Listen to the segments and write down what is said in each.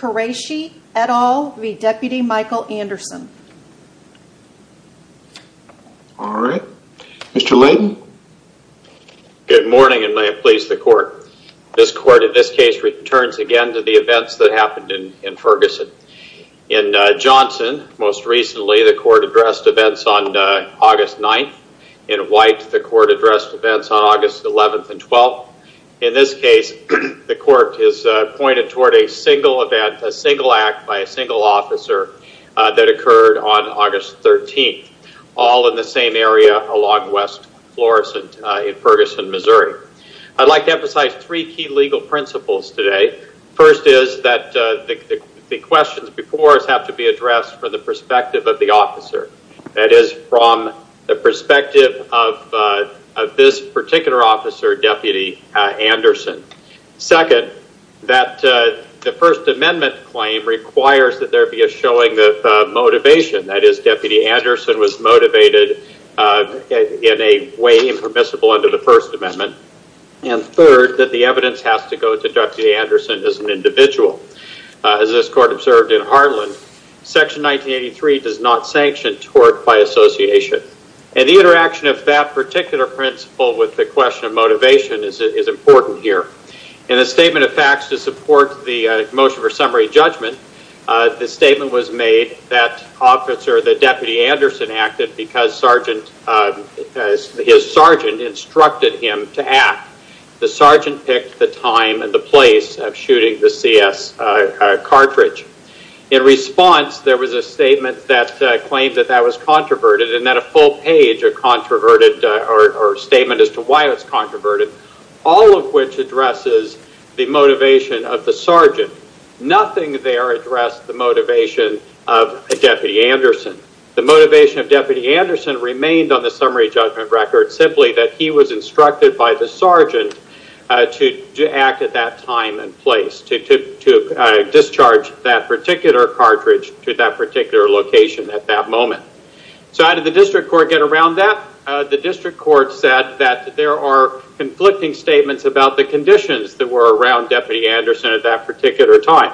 Quraishi et al v Deputy Michael Anderson All right, mr. Lane good morning, and may it please the court this court in this case returns again to the events that happened in Ferguson in Johnson most recently the court addressed events on August 9th in white the court addressed events on August 11th and 12th in this case The court is pointed toward a single event a single act by a single officer That occurred on August 13th all in the same area along West Florissant in Ferguson, Missouri I'd like to emphasize three key legal principles today first is that the questions before us have to be addressed for the perspective of the officer that is from the perspective of this particular officer deputy Anderson second that the First Amendment claim requires that there be a showing the Motivation that is deputy Anderson was motivated In a way impermissible under the First Amendment and third that the evidence has to go to dr. Anderson as an individual as this court observed in Harlan section 1983 does not sanction tort by Association and the interaction of that particular principle with the question of motivation is it is important here in a statement of facts to support the motion for summary judgment The statement was made that officer the deputy Anderson acted because sergeant His sergeant instructed him to act the sergeant picked the time and the place of shooting the CS Cartridge in response there was a statement that claimed that that was controverted and that a full page of Controverted or statement as to why it's controverted all of which addresses the motivation of the sergeant nothing there addressed the motivation of Deputy Anderson the motivation of deputy Anderson remained on the summary judgment record simply that he was instructed by the sergeant To act at that time and place to Discharge that particular cartridge to that particular location at that moment So how did the district court get around that the district court said that there are? Conflicting statements about the conditions that were around deputy Anderson at that particular time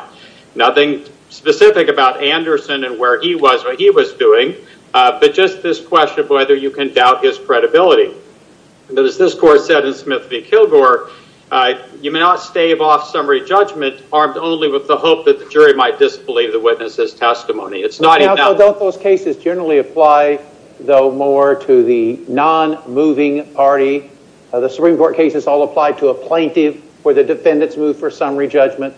nothing Specific about Anderson and where he was what he was doing, but just this question of whether you can doubt his credibility There's this court said in Smith v. Kilgore You may not stave off summary judgment armed only with the hope that the jury might disbelieve the witnesses testimony It's not about those cases generally apply though more to the non moving party The Supreme Court cases all apply to a plaintiff where the defendants move for summary judgment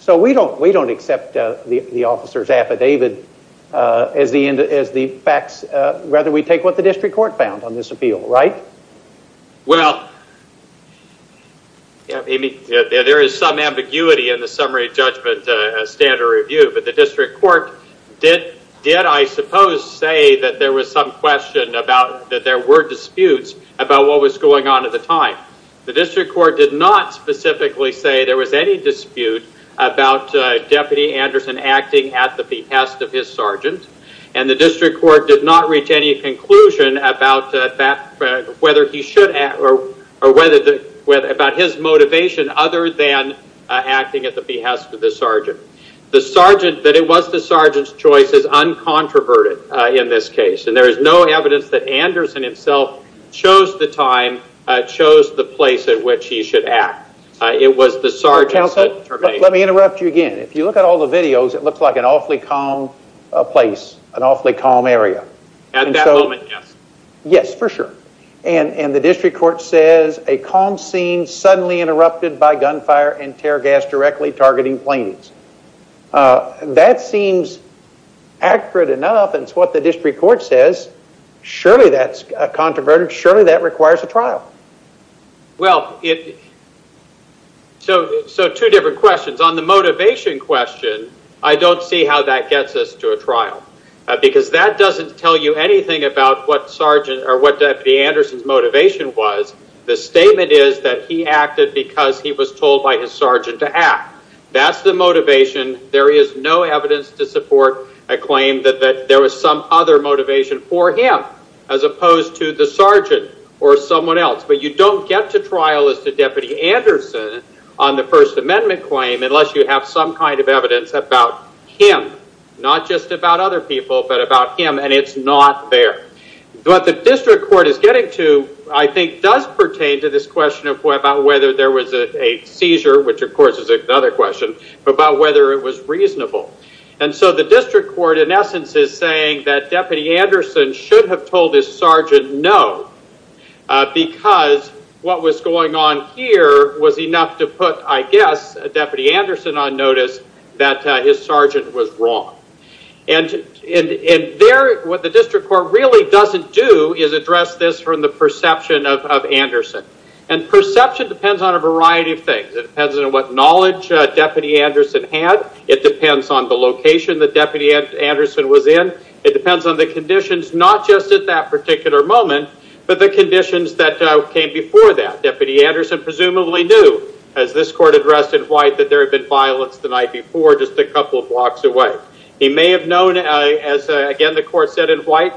So we don't we don't accept the officers affidavit As the end as the facts rather we take what the district court found on this appeal, right? well Yeah, maybe there is some ambiguity in the summary judgment Standard review, but the district court did did I suppose say that there was some question about that There were disputes about what was going on at the time the district court did not specifically say there was any dispute about Deputy Anderson acting at the behest of his sergeant and the district court did not reach any conclusion about that Whether he should act or or whether the weather about his motivation other than Acting at the behest of the sergeant the sergeant that it was the sergeant's choice is Uncontroverted in this case and there is no evidence that Anderson himself chose the time Chose the place at which he should act it was the sergeant Let me interrupt you again. If you look at all the videos, it looks like an awfully calm a place an awfully calm area At that moment, yes Yes for sure and and the district court says a calm scene suddenly interrupted by gunfire and tear gas directly targeting planes that seems Accurate enough and it's what the district court says Surely that's a controverted surely that requires a trial well, it So so two different questions on the motivation question I don't see how that gets us to a trial Because that doesn't tell you anything about what sergeant or what deputy Anderson's motivation was The statement is that he acted because he was told by his sergeant to act. That's the motivation there is no evidence to support a claim that that there was some other motivation for him as Opposed to the sergeant or someone else, but you don't get to trial as the deputy Anderson on the First Amendment claim Unless you have some kind of evidence about him not just about other people but about him and it's not there But the district court is getting to I think does pertain to this question of whether there was a seizure Which of course is another question about whether it was reasonable And so the district court in essence is saying that deputy Anderson should have told his sergeant. No Because what was going on here was enough to put I guess a deputy Anderson on notice that his sergeant was wrong and in there what the district court really doesn't do is address this from the perception of Anderson and perception depends on a variety of things. It depends on what knowledge deputy Anderson had It depends on the location that deputy Anderson was in it depends on the conditions not just at that particular moment but the conditions that Came before that deputy Anderson presumably knew as this court addressed in white that there had been violence the night before just a couple of Walks away. He may have known as again The court said in white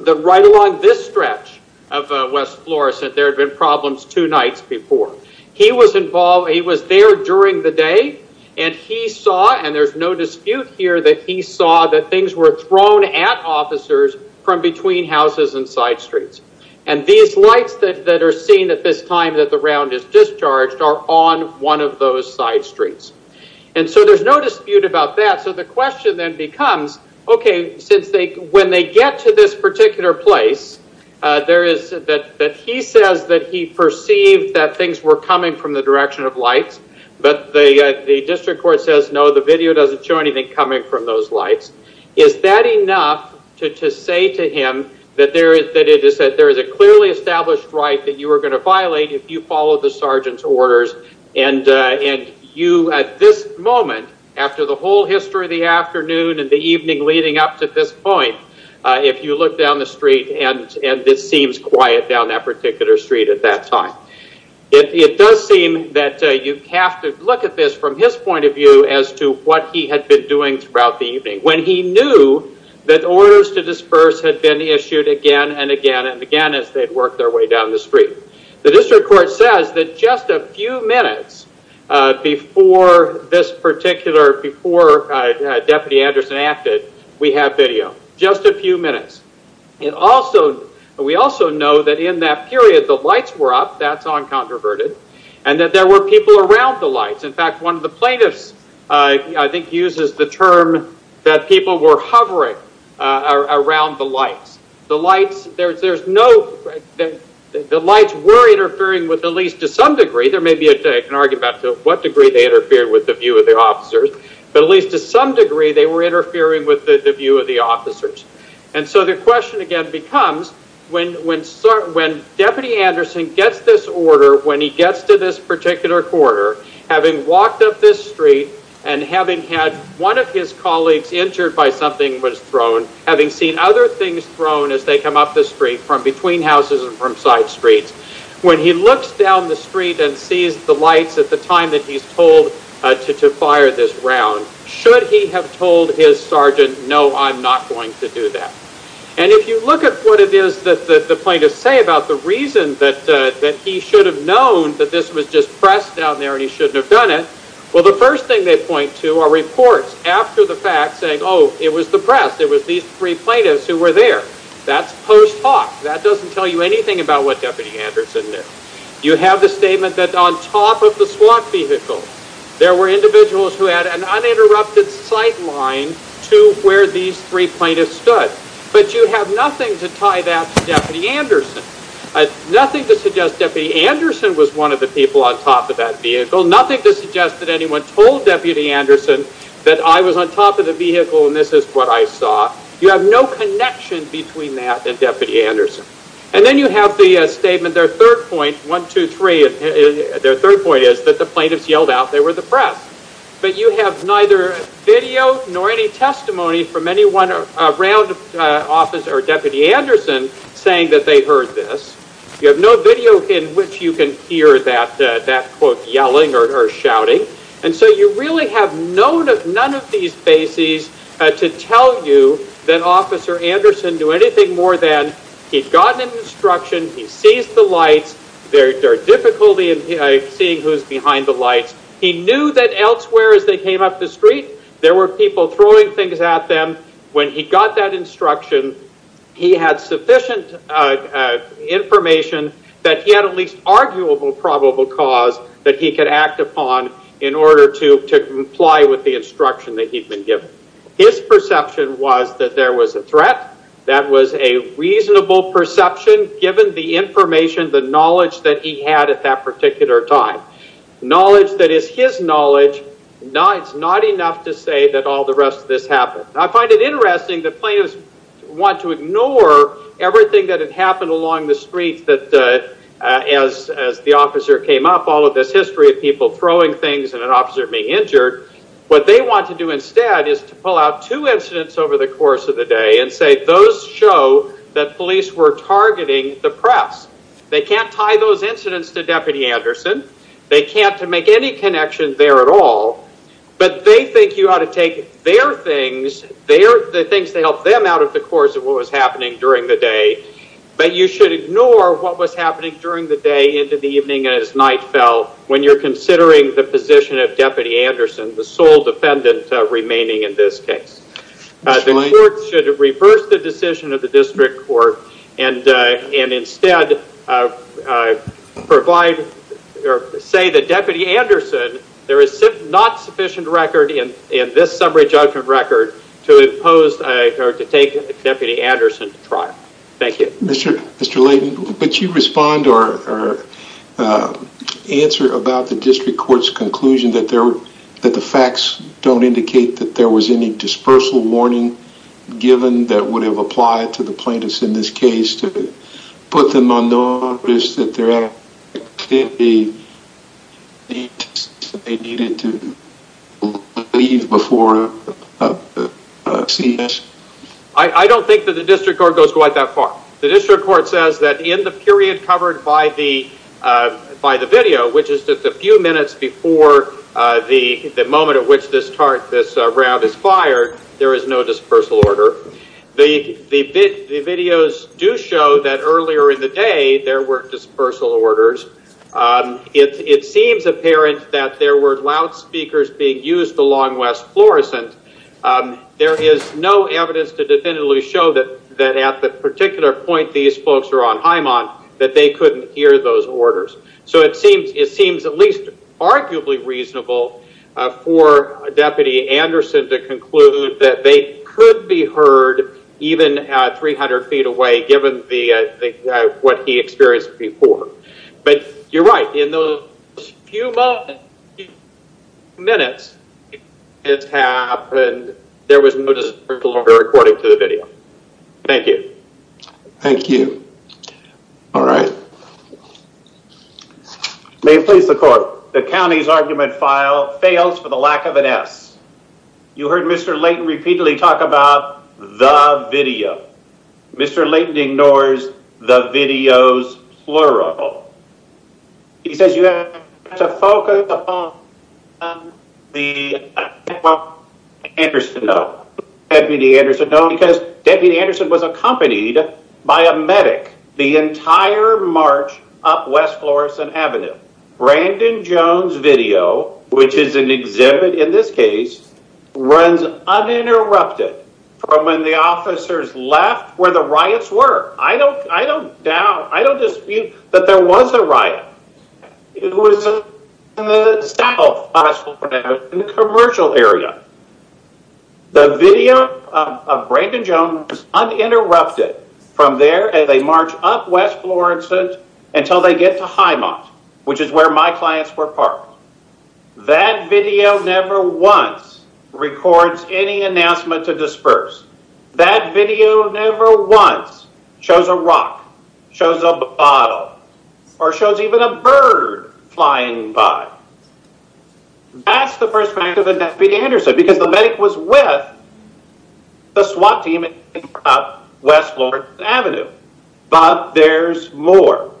the right along this stretch of West Florissant There had been problems two nights before He was involved He was there during the day and he saw and there's no dispute here that he saw that things were thrown at Officers from between houses and side streets and these lights that are seen at this time that the round is Discharged are on one of those side streets. And so there's no dispute about that So the question then becomes okay since they when they get to this particular place There is that that he says that he perceived that things were coming from the direction of lights But they the district court says no the video doesn't show anything coming from those lights. Is that enough? to say to him that there is that it is that there is a clearly established right that you are going to violate if you follow the sergeant's orders and And you at this moment after the whole history of the afternoon and the evening leading up to this point If you look down the street and and this seems quiet down that particular street at that time It does seem that you have to look at this from his point of view as to what he had been doing When he knew that Orders to disperse had been issued again and again and again as they'd work their way down the street The district court says that just a few minutes before this particular before Deputy Anderson acted we have video just a few minutes It also we also know that in that period the lights were up That's on controverted and that there were people around the lights. In fact, one of the plaintiffs I think uses the term that people were hovering Around the lights the lights. There's there's no The lights were interfering with at least to some degree there may be a day can argue about to what degree they interfered with the view of the officers But at least to some degree they were interfering with the view of the officers And so the question again becomes when when sir when deputy Anderson gets this order when he gets to this particular Corridor having walked up this street and having had one of his colleagues injured by something was thrown Having seen other things thrown as they come up the street from between houses and from side streets When he looks down the street and sees the lights at the time that he's told to to fire this round Should he have told his sergeant? No I'm not going to do that and if you look at what it is that the plaintiffs say about the reason that That he should have known that this was just pressed down there and he shouldn't have done it Well, the first thing they point to our reports after the fact saying oh, it was the press There was these three plaintiffs who were there that's post hoc That doesn't tell you anything about what deputy Anderson knew you have the statement that on top of the SWAT vehicle There were individuals who had an uninterrupted sight line to where these three plaintiffs stood But you have nothing to tie that deputy Anderson Nothing to suggest that the Anderson was one of the people on top of that vehicle nothing to suggest that anyone told deputy Anderson That I was on top of the vehicle and this is what I saw you have no connection between that and deputy Anderson And then you have the statement their third point one two, three Their third point is that the plaintiffs yelled out they were the press but you have neither Video nor any testimony from anyone around Officer or deputy Anderson saying that they heard this you have no video in which you can hear that That quote yelling or shouting and so you really have known of none of these bases To tell you that officer Anderson do anything more than he's gotten instruction He sees the lights their difficulty in seeing who's behind the lights He knew that elsewhere as they came up the street There were people throwing things at them when he got that instruction. He had sufficient Information that he had at least Arguable probable cause that he could act upon in order to to comply with the instruction that he'd been given His perception was that there was a threat that was a reasonable perception Given the information the knowledge that he had at that particular time Knowledge that is his knowledge No, it's not enough to say that all the rest of this happened. I find it interesting that players want to ignore everything that had happened along the streets that As as the officer came up all of this history of people throwing things and an officer being injured What they want to do instead is to pull out two incidents over the course of the day and say those show That police were targeting the press. They can't tie those incidents to deputy Anderson They can't to make any connection there at all But they think you ought to take their things They are the things to help them out of the course of what was happening during the day But you should ignore what was happening during the day into the evening as night fell when you're considering the position of deputy Anderson the sole defendant remaining in this case The court should reverse the decision of the district court and and instead I provide Say that deputy Anderson there is not sufficient record in in this summary judgment record to impose I heard to take deputy Anderson trial. Thank you. Mr. Mr. Layton, but you respond or Answer about the district courts conclusion that there that the facts don't indicate that there was any dispersal warning Given that would have applied to the plaintiffs in this case to put them on notice that they're at They needed to leave before CES I I don't think that the district court goes quite that far the district court says that in the period covered by the by the video Which is just a few minutes before? The the moment of which this part this round is fired There is no dispersal order the the bit the videos do show that earlier in the day. There were dispersal orders It seems apparent that there were loudspeakers being used along West Florissant There is no evidence to definitively show that that at the particular point These folks are on high month that they couldn't hear those orders So it seems it seems at least arguably reasonable for a deputy Anderson to conclude that they could be heard even at 300 feet away given the What he experienced before but you're right in those few Minutes It's happened. There was no disapproval over according to the video. Thank you Thank you All right May please the court the county's argument file fails for the lack of an s You heard mr. Layton repeatedly talk about the video Mr. Layton ignores the videos plural He says you have to focus The Interest to know Anderson only because deputy Anderson was accompanied by a medic the entire March up West Florissant Avenue Brandon Jones video, which is an exhibit in this case Runs uninterrupted from when the officers left where the riots were. I don't I don't doubt I don't dispute that there was a riot It was Commercial area The video of Brandon Jones Uninterrupted from there and they march up West Florissant until they get to highmont, which is where my clients were parked that video never once records any announcement to disperse that video never once Shows a rock shows a bottle or shows even a bird flying by That's the perspective of the deputy Anderson because the medic was with the SWAT team West Florissant Avenue, but there's more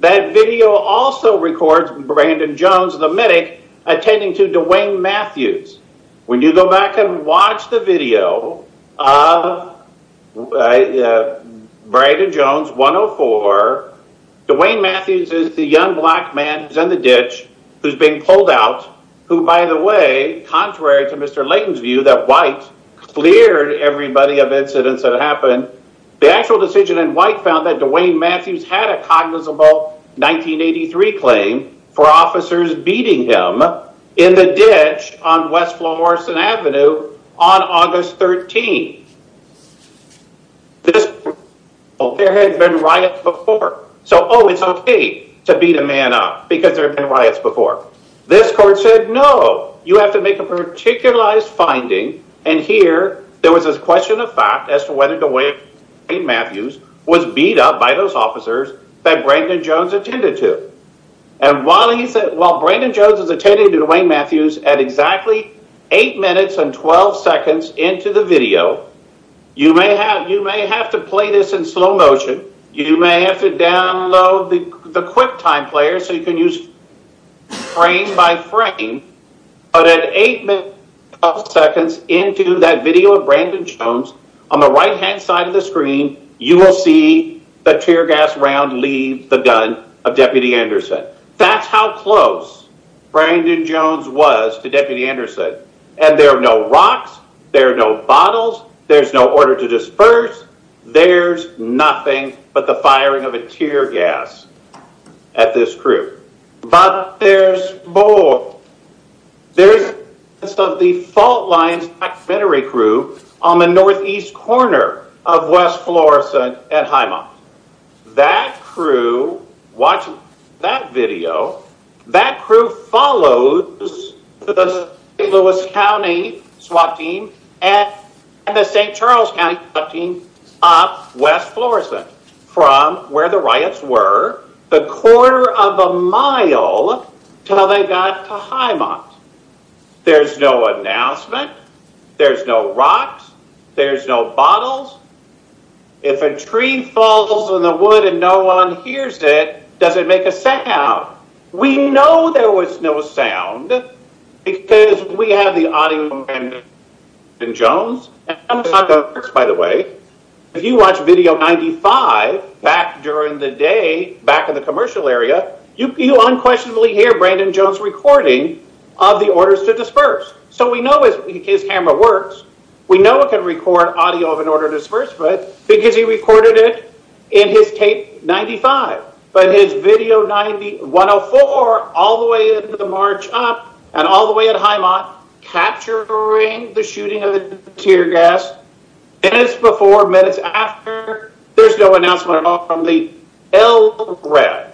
that video also records Brandon Jones the medic attending to Dwayne Matthews when you go back and watch the video of Brandon Jones 104 Dwayne Matthews is the young black man who's in the ditch who's being pulled out who by the way Contrary to mr. Layton's view that white Cleared everybody of incidents that happened the actual decision and white found that Dwayne Matthews had a cognizable 1983 claim for officers beating him in the ditch on West Florissant Avenue on August 13 Oh There had been riots before so oh, it's okay to beat a man up because there have been riots before this court said No, you have to make a particularized finding and here there was this question of fact as to whether Dwayne Matthews was beat up by those officers that Brandon Jones attended to and While he said while Brandon Jones is attending to Dwayne Matthews at exactly eight minutes and 12 seconds into the video You may have you may have to play this in slow motion. You may have to download the QuickTime player so you can use frame by frame But at eight minutes of seconds into that video of Brandon Jones on the right-hand side of the screen You will see the tear gas round leave the gun of deputy Anderson. That's how close Brandon Jones was to deputy Anderson and there are no rocks. There are no bottles. There's no order to disperse There's nothing but the firing of a tear gas at this crew, but there's more There's some of the fault lines veterinary crew on the northeast corner of West Florissant and Highmont that crew Watch that video that crew follows the St. Louis County SWAT team and the St. Charles County SWAT team up West Florissant from where the riots were the quarter of a mile till they got to Highmont There's no announcement. There's no rocks. There's no bottles If a tree falls on the wood and no one hears it does it make a sound We know there was no sound Because we have the audio in Jones By the way, if you watch video 95 back during the day back in the commercial area You unquestionably hear Brandon Jones recording of the orders to disperse. So we know is his camera works We know it can record audio of an order to disperse, but because he recorded it in his tape 95 But his video 90 104 all the way into the march up and all the way at Highmont capturing the shooting of the tear gas And it's before minutes after there's no announcement at all from the LRAD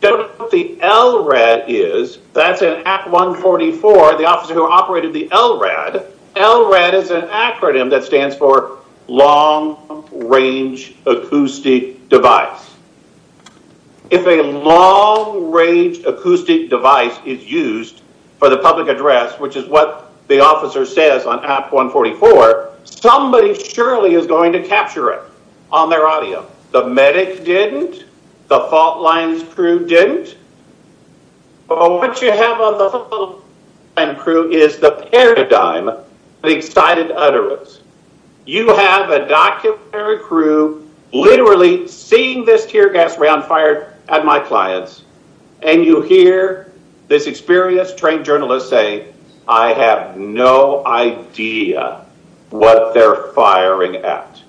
The LRAD is that's an act 144 the officer who operated the LRAD LRAD is an acronym that stands for long range acoustic device If a long-range Acoustic device is used for the public address, which is what the officer says on app 144 Somebody surely is going to capture it on their audio. The medic didn't the fault lines crew didn't What you have on the Crew is the paradigm the excited utterance You have a documentary crew Literally seeing this tear gas round fired at my clients and you hear this experienced trained journalist say I Have no idea What they're firing at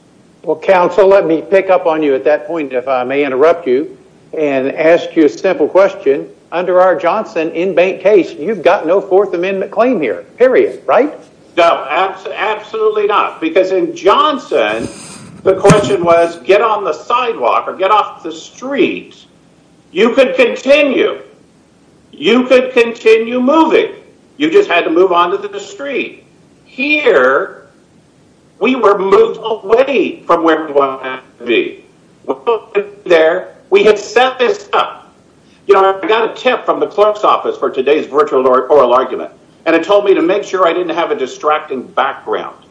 well counsel Let me pick up on you at that point if I may interrupt you and ask you a simple question Under our Johnson in bank case. You've got no Fourth Amendment claim here period right now Absolutely not because in Johnson the question was get on the sidewalk or get off the street You could continue You could continue moving. You just had to move on to the street here We were moved away from where we want to be There we had set this up You know, I got a tip from the clerk's office for today's virtual oral argument and it told me to make sure I didn't have a distracting background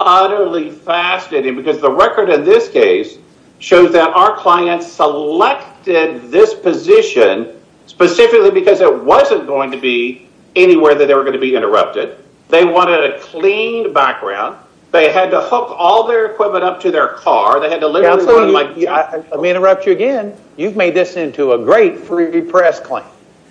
Utterly fascinating because the record in this case shows that our clients selected this position Specifically because it wasn't going to be anywhere that they were going to be interrupted They wanted a clean background they had to hook all their equipment up to their car they had to live Let me interrupt you again. You've made this into a great free press claim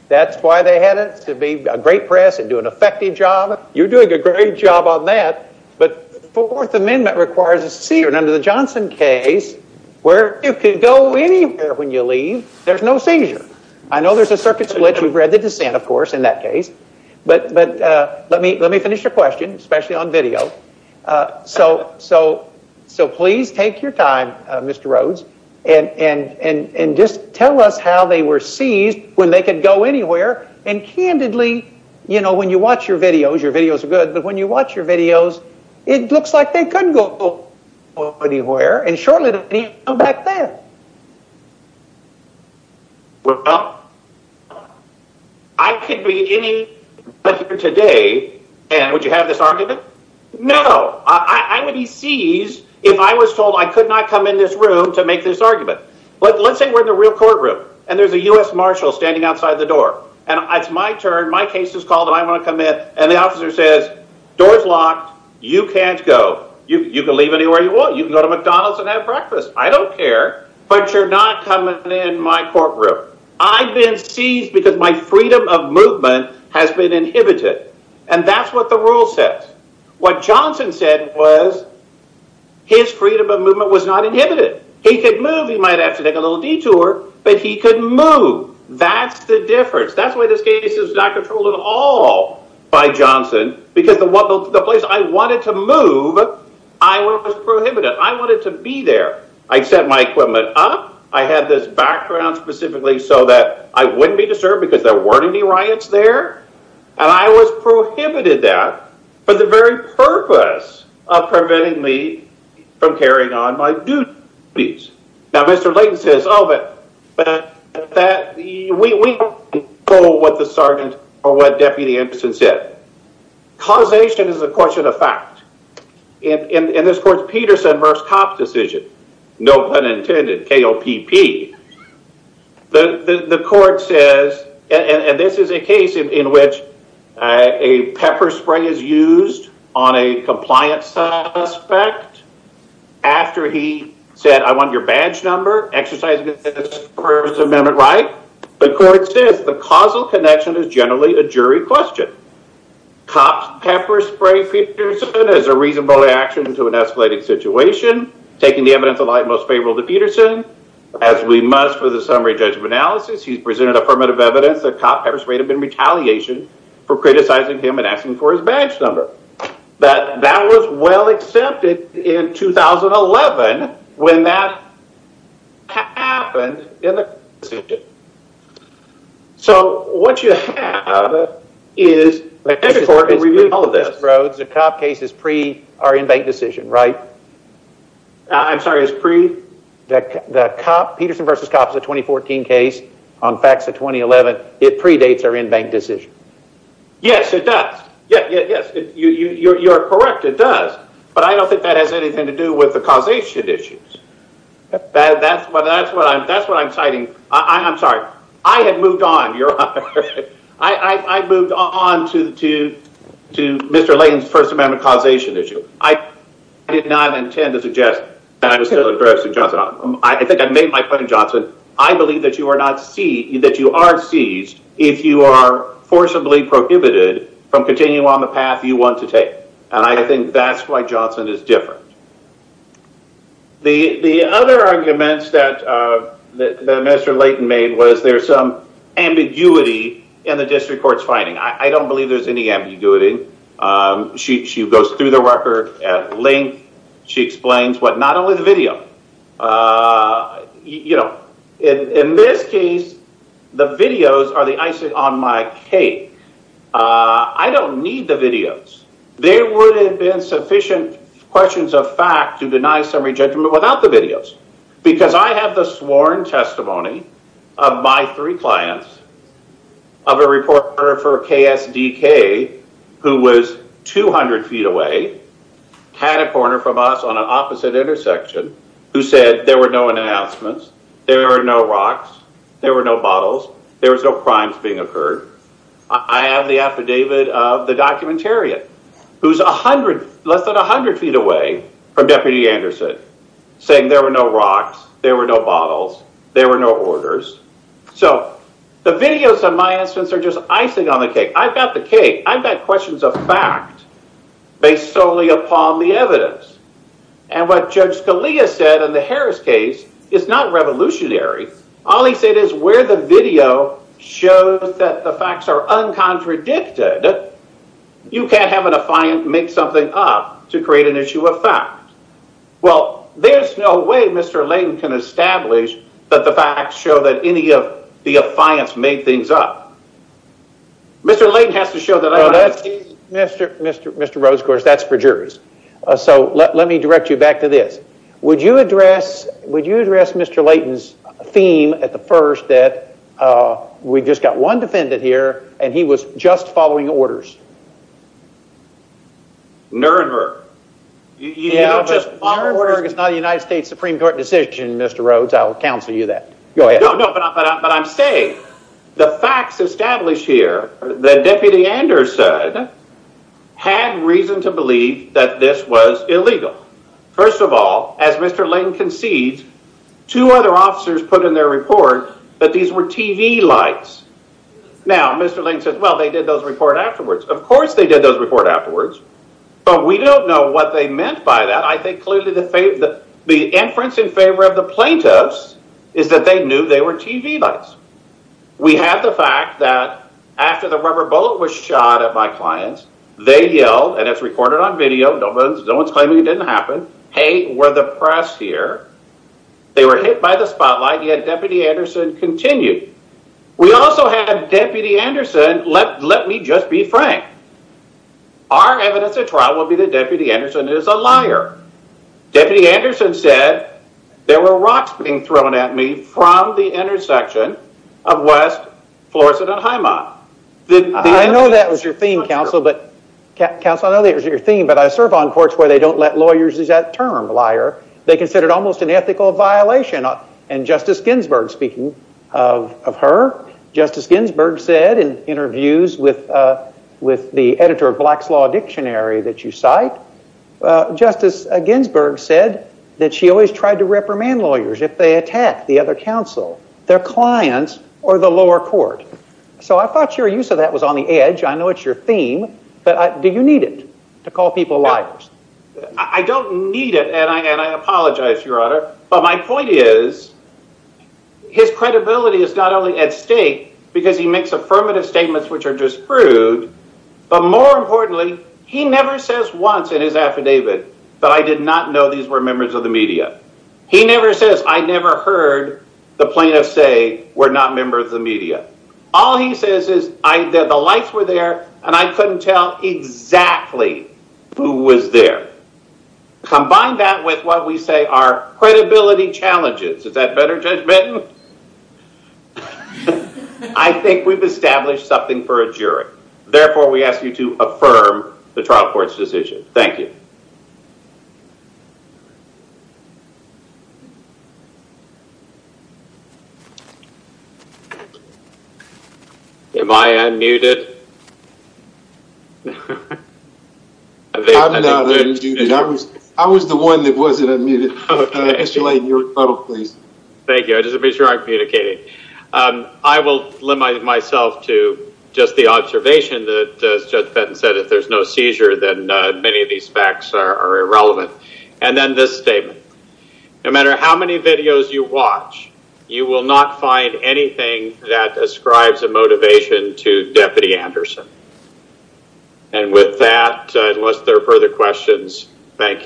That's why they had it to be a great press and do an effective job You're doing a great job on that but fourth amendment requires a secret under the Johnson case Where you could go anywhere when you leave there's no seizure. I know there's a circuit split We've read the dissent, of course in that case, but but let me let me finish your question, especially on video So so so please take your time. Mr. Rhoades and And and just tell us how they were seized when they could go anywhere and candidly You know when you watch your videos your videos are good. But when you watch your videos, it looks like they couldn't go Anywhere and shortly they'll come back there Well, I Could be any Today and would you have this argument? No I would be seized if I was told I could not come in this room to make this argument But let's say we're in the real courtroom and there's a US marshal standing outside the door and it's my turn My case is called and I want to come in and the officer says doors locked. You can't go you can leave anywhere You can go to McDonald's and have breakfast. I don't care but you're not coming in my courtroom I've been seized because my freedom of movement has been inhibited and that's what the rule says what Johnson said was His freedom of movement was not inhibited. He could move he might have to take a little detour, but he couldn't move That's the difference. That's why this case is not controlled at all By Johnson because the what the place I wanted to move I Prohibited I wanted to be there. I set my equipment up I had this background specifically so that I wouldn't be disturbed because there weren't any riots there and I was Prohibited that for the very purpose of preventing me from carrying on my duties Now mr. Layton says of it That we What the sergeant or what deputy Emerson said Causation is a question of fact in this court Peterson verse cop decision. No pun intended KO PP the the court says and this is a case in which a Pepper spray is used on a compliance suspect After he said I want your badge number exercise Amendment right the court says the causal connection is generally a jury question cops pepper spray Is a reasonable reaction to an escalated situation Taking the evidence of light most favorable to Peterson as we must for the summary judgment analysis He's presented affirmative evidence that cop pepper spray to been retaliation for criticizing him and asking for his badge number That that was well accepted in 2011 when that Happened in the So what you have Is the court all of this roads a cop case is pre are in bank decision, right? I'm sorry is pre that the cop Peterson versus cop is a 2014 case on facts of 2011 It predates are in bank decision Yes, it does yeah, yes, you you you're correct it does but I don't think that has anything to do with the causation issues That's what that's what I'm that's what I'm citing. I'm sorry. I had moved on your I Moved on to to to mr. Lane's first amendment causation issue. I Did not intend to suggest that I was still aggressive. I think I've made my point in Johnson I believe that you are not see that you are seized if you are Forcibly prohibited from continuing on the path you want to take and I think that's why Johnson is different the the other arguments that Mr. Layton made was there some ambiguity in the district courts finding. I don't believe there's any ambiguity She goes through the record at length. She explains what not only the video You know in this case the videos are the icing on my cake I don't need the videos There would have been sufficient questions of fact to deny summary judgment without the videos because I have the sworn testimony of my three clients of a reporter for KSDK Who was? 200 feet away Had a corner from us on an opposite intersection who said there were no announcements there are no rocks There were no bottles. There was no crimes being occurred I have the affidavit of the documentarian who's a hundred less than a hundred feet away from deputy Anderson Saying there were no rocks. There were no bottles. There were no orders So the videos of my instance are just icing on the cake. I've got the cake. I've got questions of fact Based solely upon the evidence and what judge Scalia said in the Harris case is not revolutionary All he said is where the video shows that the facts are Uncontradicted You can't have an affiant make something up to create an issue of fact Well, there's no way. Mr. Layton can establish that the facts show that any of the affiance made things up Mr. Layton has to show that Mr. Mr. Mr. Rhodes, of course, that's for jurors. So let me direct you back to this. Would you address would you address? Mr. Layton's theme at the first that We just got one defendant here and he was just following orders Nuremberg It's not a United States Supreme Court decision. Mr. Rhodes. I'll counsel you that go ahead But I'm saying the facts established here that deputy Anders said Had reason to believe that this was illegal First of all as mr. Layton concedes two other officers put in their report that these were TV lights Now, mr. Layton says well, they did those report afterwards Of course, they did those report afterwards, but we don't know what they meant by that I think clearly the faith that the inference in favor of the plaintiffs is that they knew they were TV lights We have the fact that after the rubber bullet was shot at my clients They yelled and it's recorded on video. No one's no one's claiming. It didn't happen. Hey, we're the press here They were hit by the spotlight yet. Deputy Anderson continued. We also have deputy Anderson. Let let me just be frank Our evidence at trial will be the deputy Anderson is a liar Deputy Anderson said there were rocks being thrown at me from the intersection of West Florissant and Highmont Did I know that was your theme counsel, but? Counsel, I know that was your theme, but I serve on courts where they don't let lawyers use that term liar They considered almost an ethical violation and justice Ginsburg speaking of her justice Ginsburg said in interviews with With the editor of Black's Law Dictionary that you cite Justice Ginsburg said that she always tried to reprimand lawyers if they attack the other counsel their clients or the lower court So I thought your use of that was on the edge I know it's your theme, but I do you need it to call people liars? I don't need it and I and I apologize your honor, but my point is His credibility is not only at stake because he makes affirmative statements which are disproved But more importantly he never says once in his affidavit that I did not know these were members of the media He never says I never heard the plaintiffs say we're not members of the media All he says is I that the lights were there and I couldn't tell exactly who was there Combine that with what we say our credibility challenges. Is that better judgment? I Think we've established something for a jury therefore we ask you to affirm the trial courts decision. Thank you Am I unmuted I Was the one that wasn't a minute Thank you, I just be sure I'm communicating I will limit myself to just the observation that Judge Benton said if there's no seizure then many of these facts are irrelevant and then this statement No matter how many videos you watch you will not find anything that ascribes a motivation to deputy Anderson and With that unless there are further questions. Thank you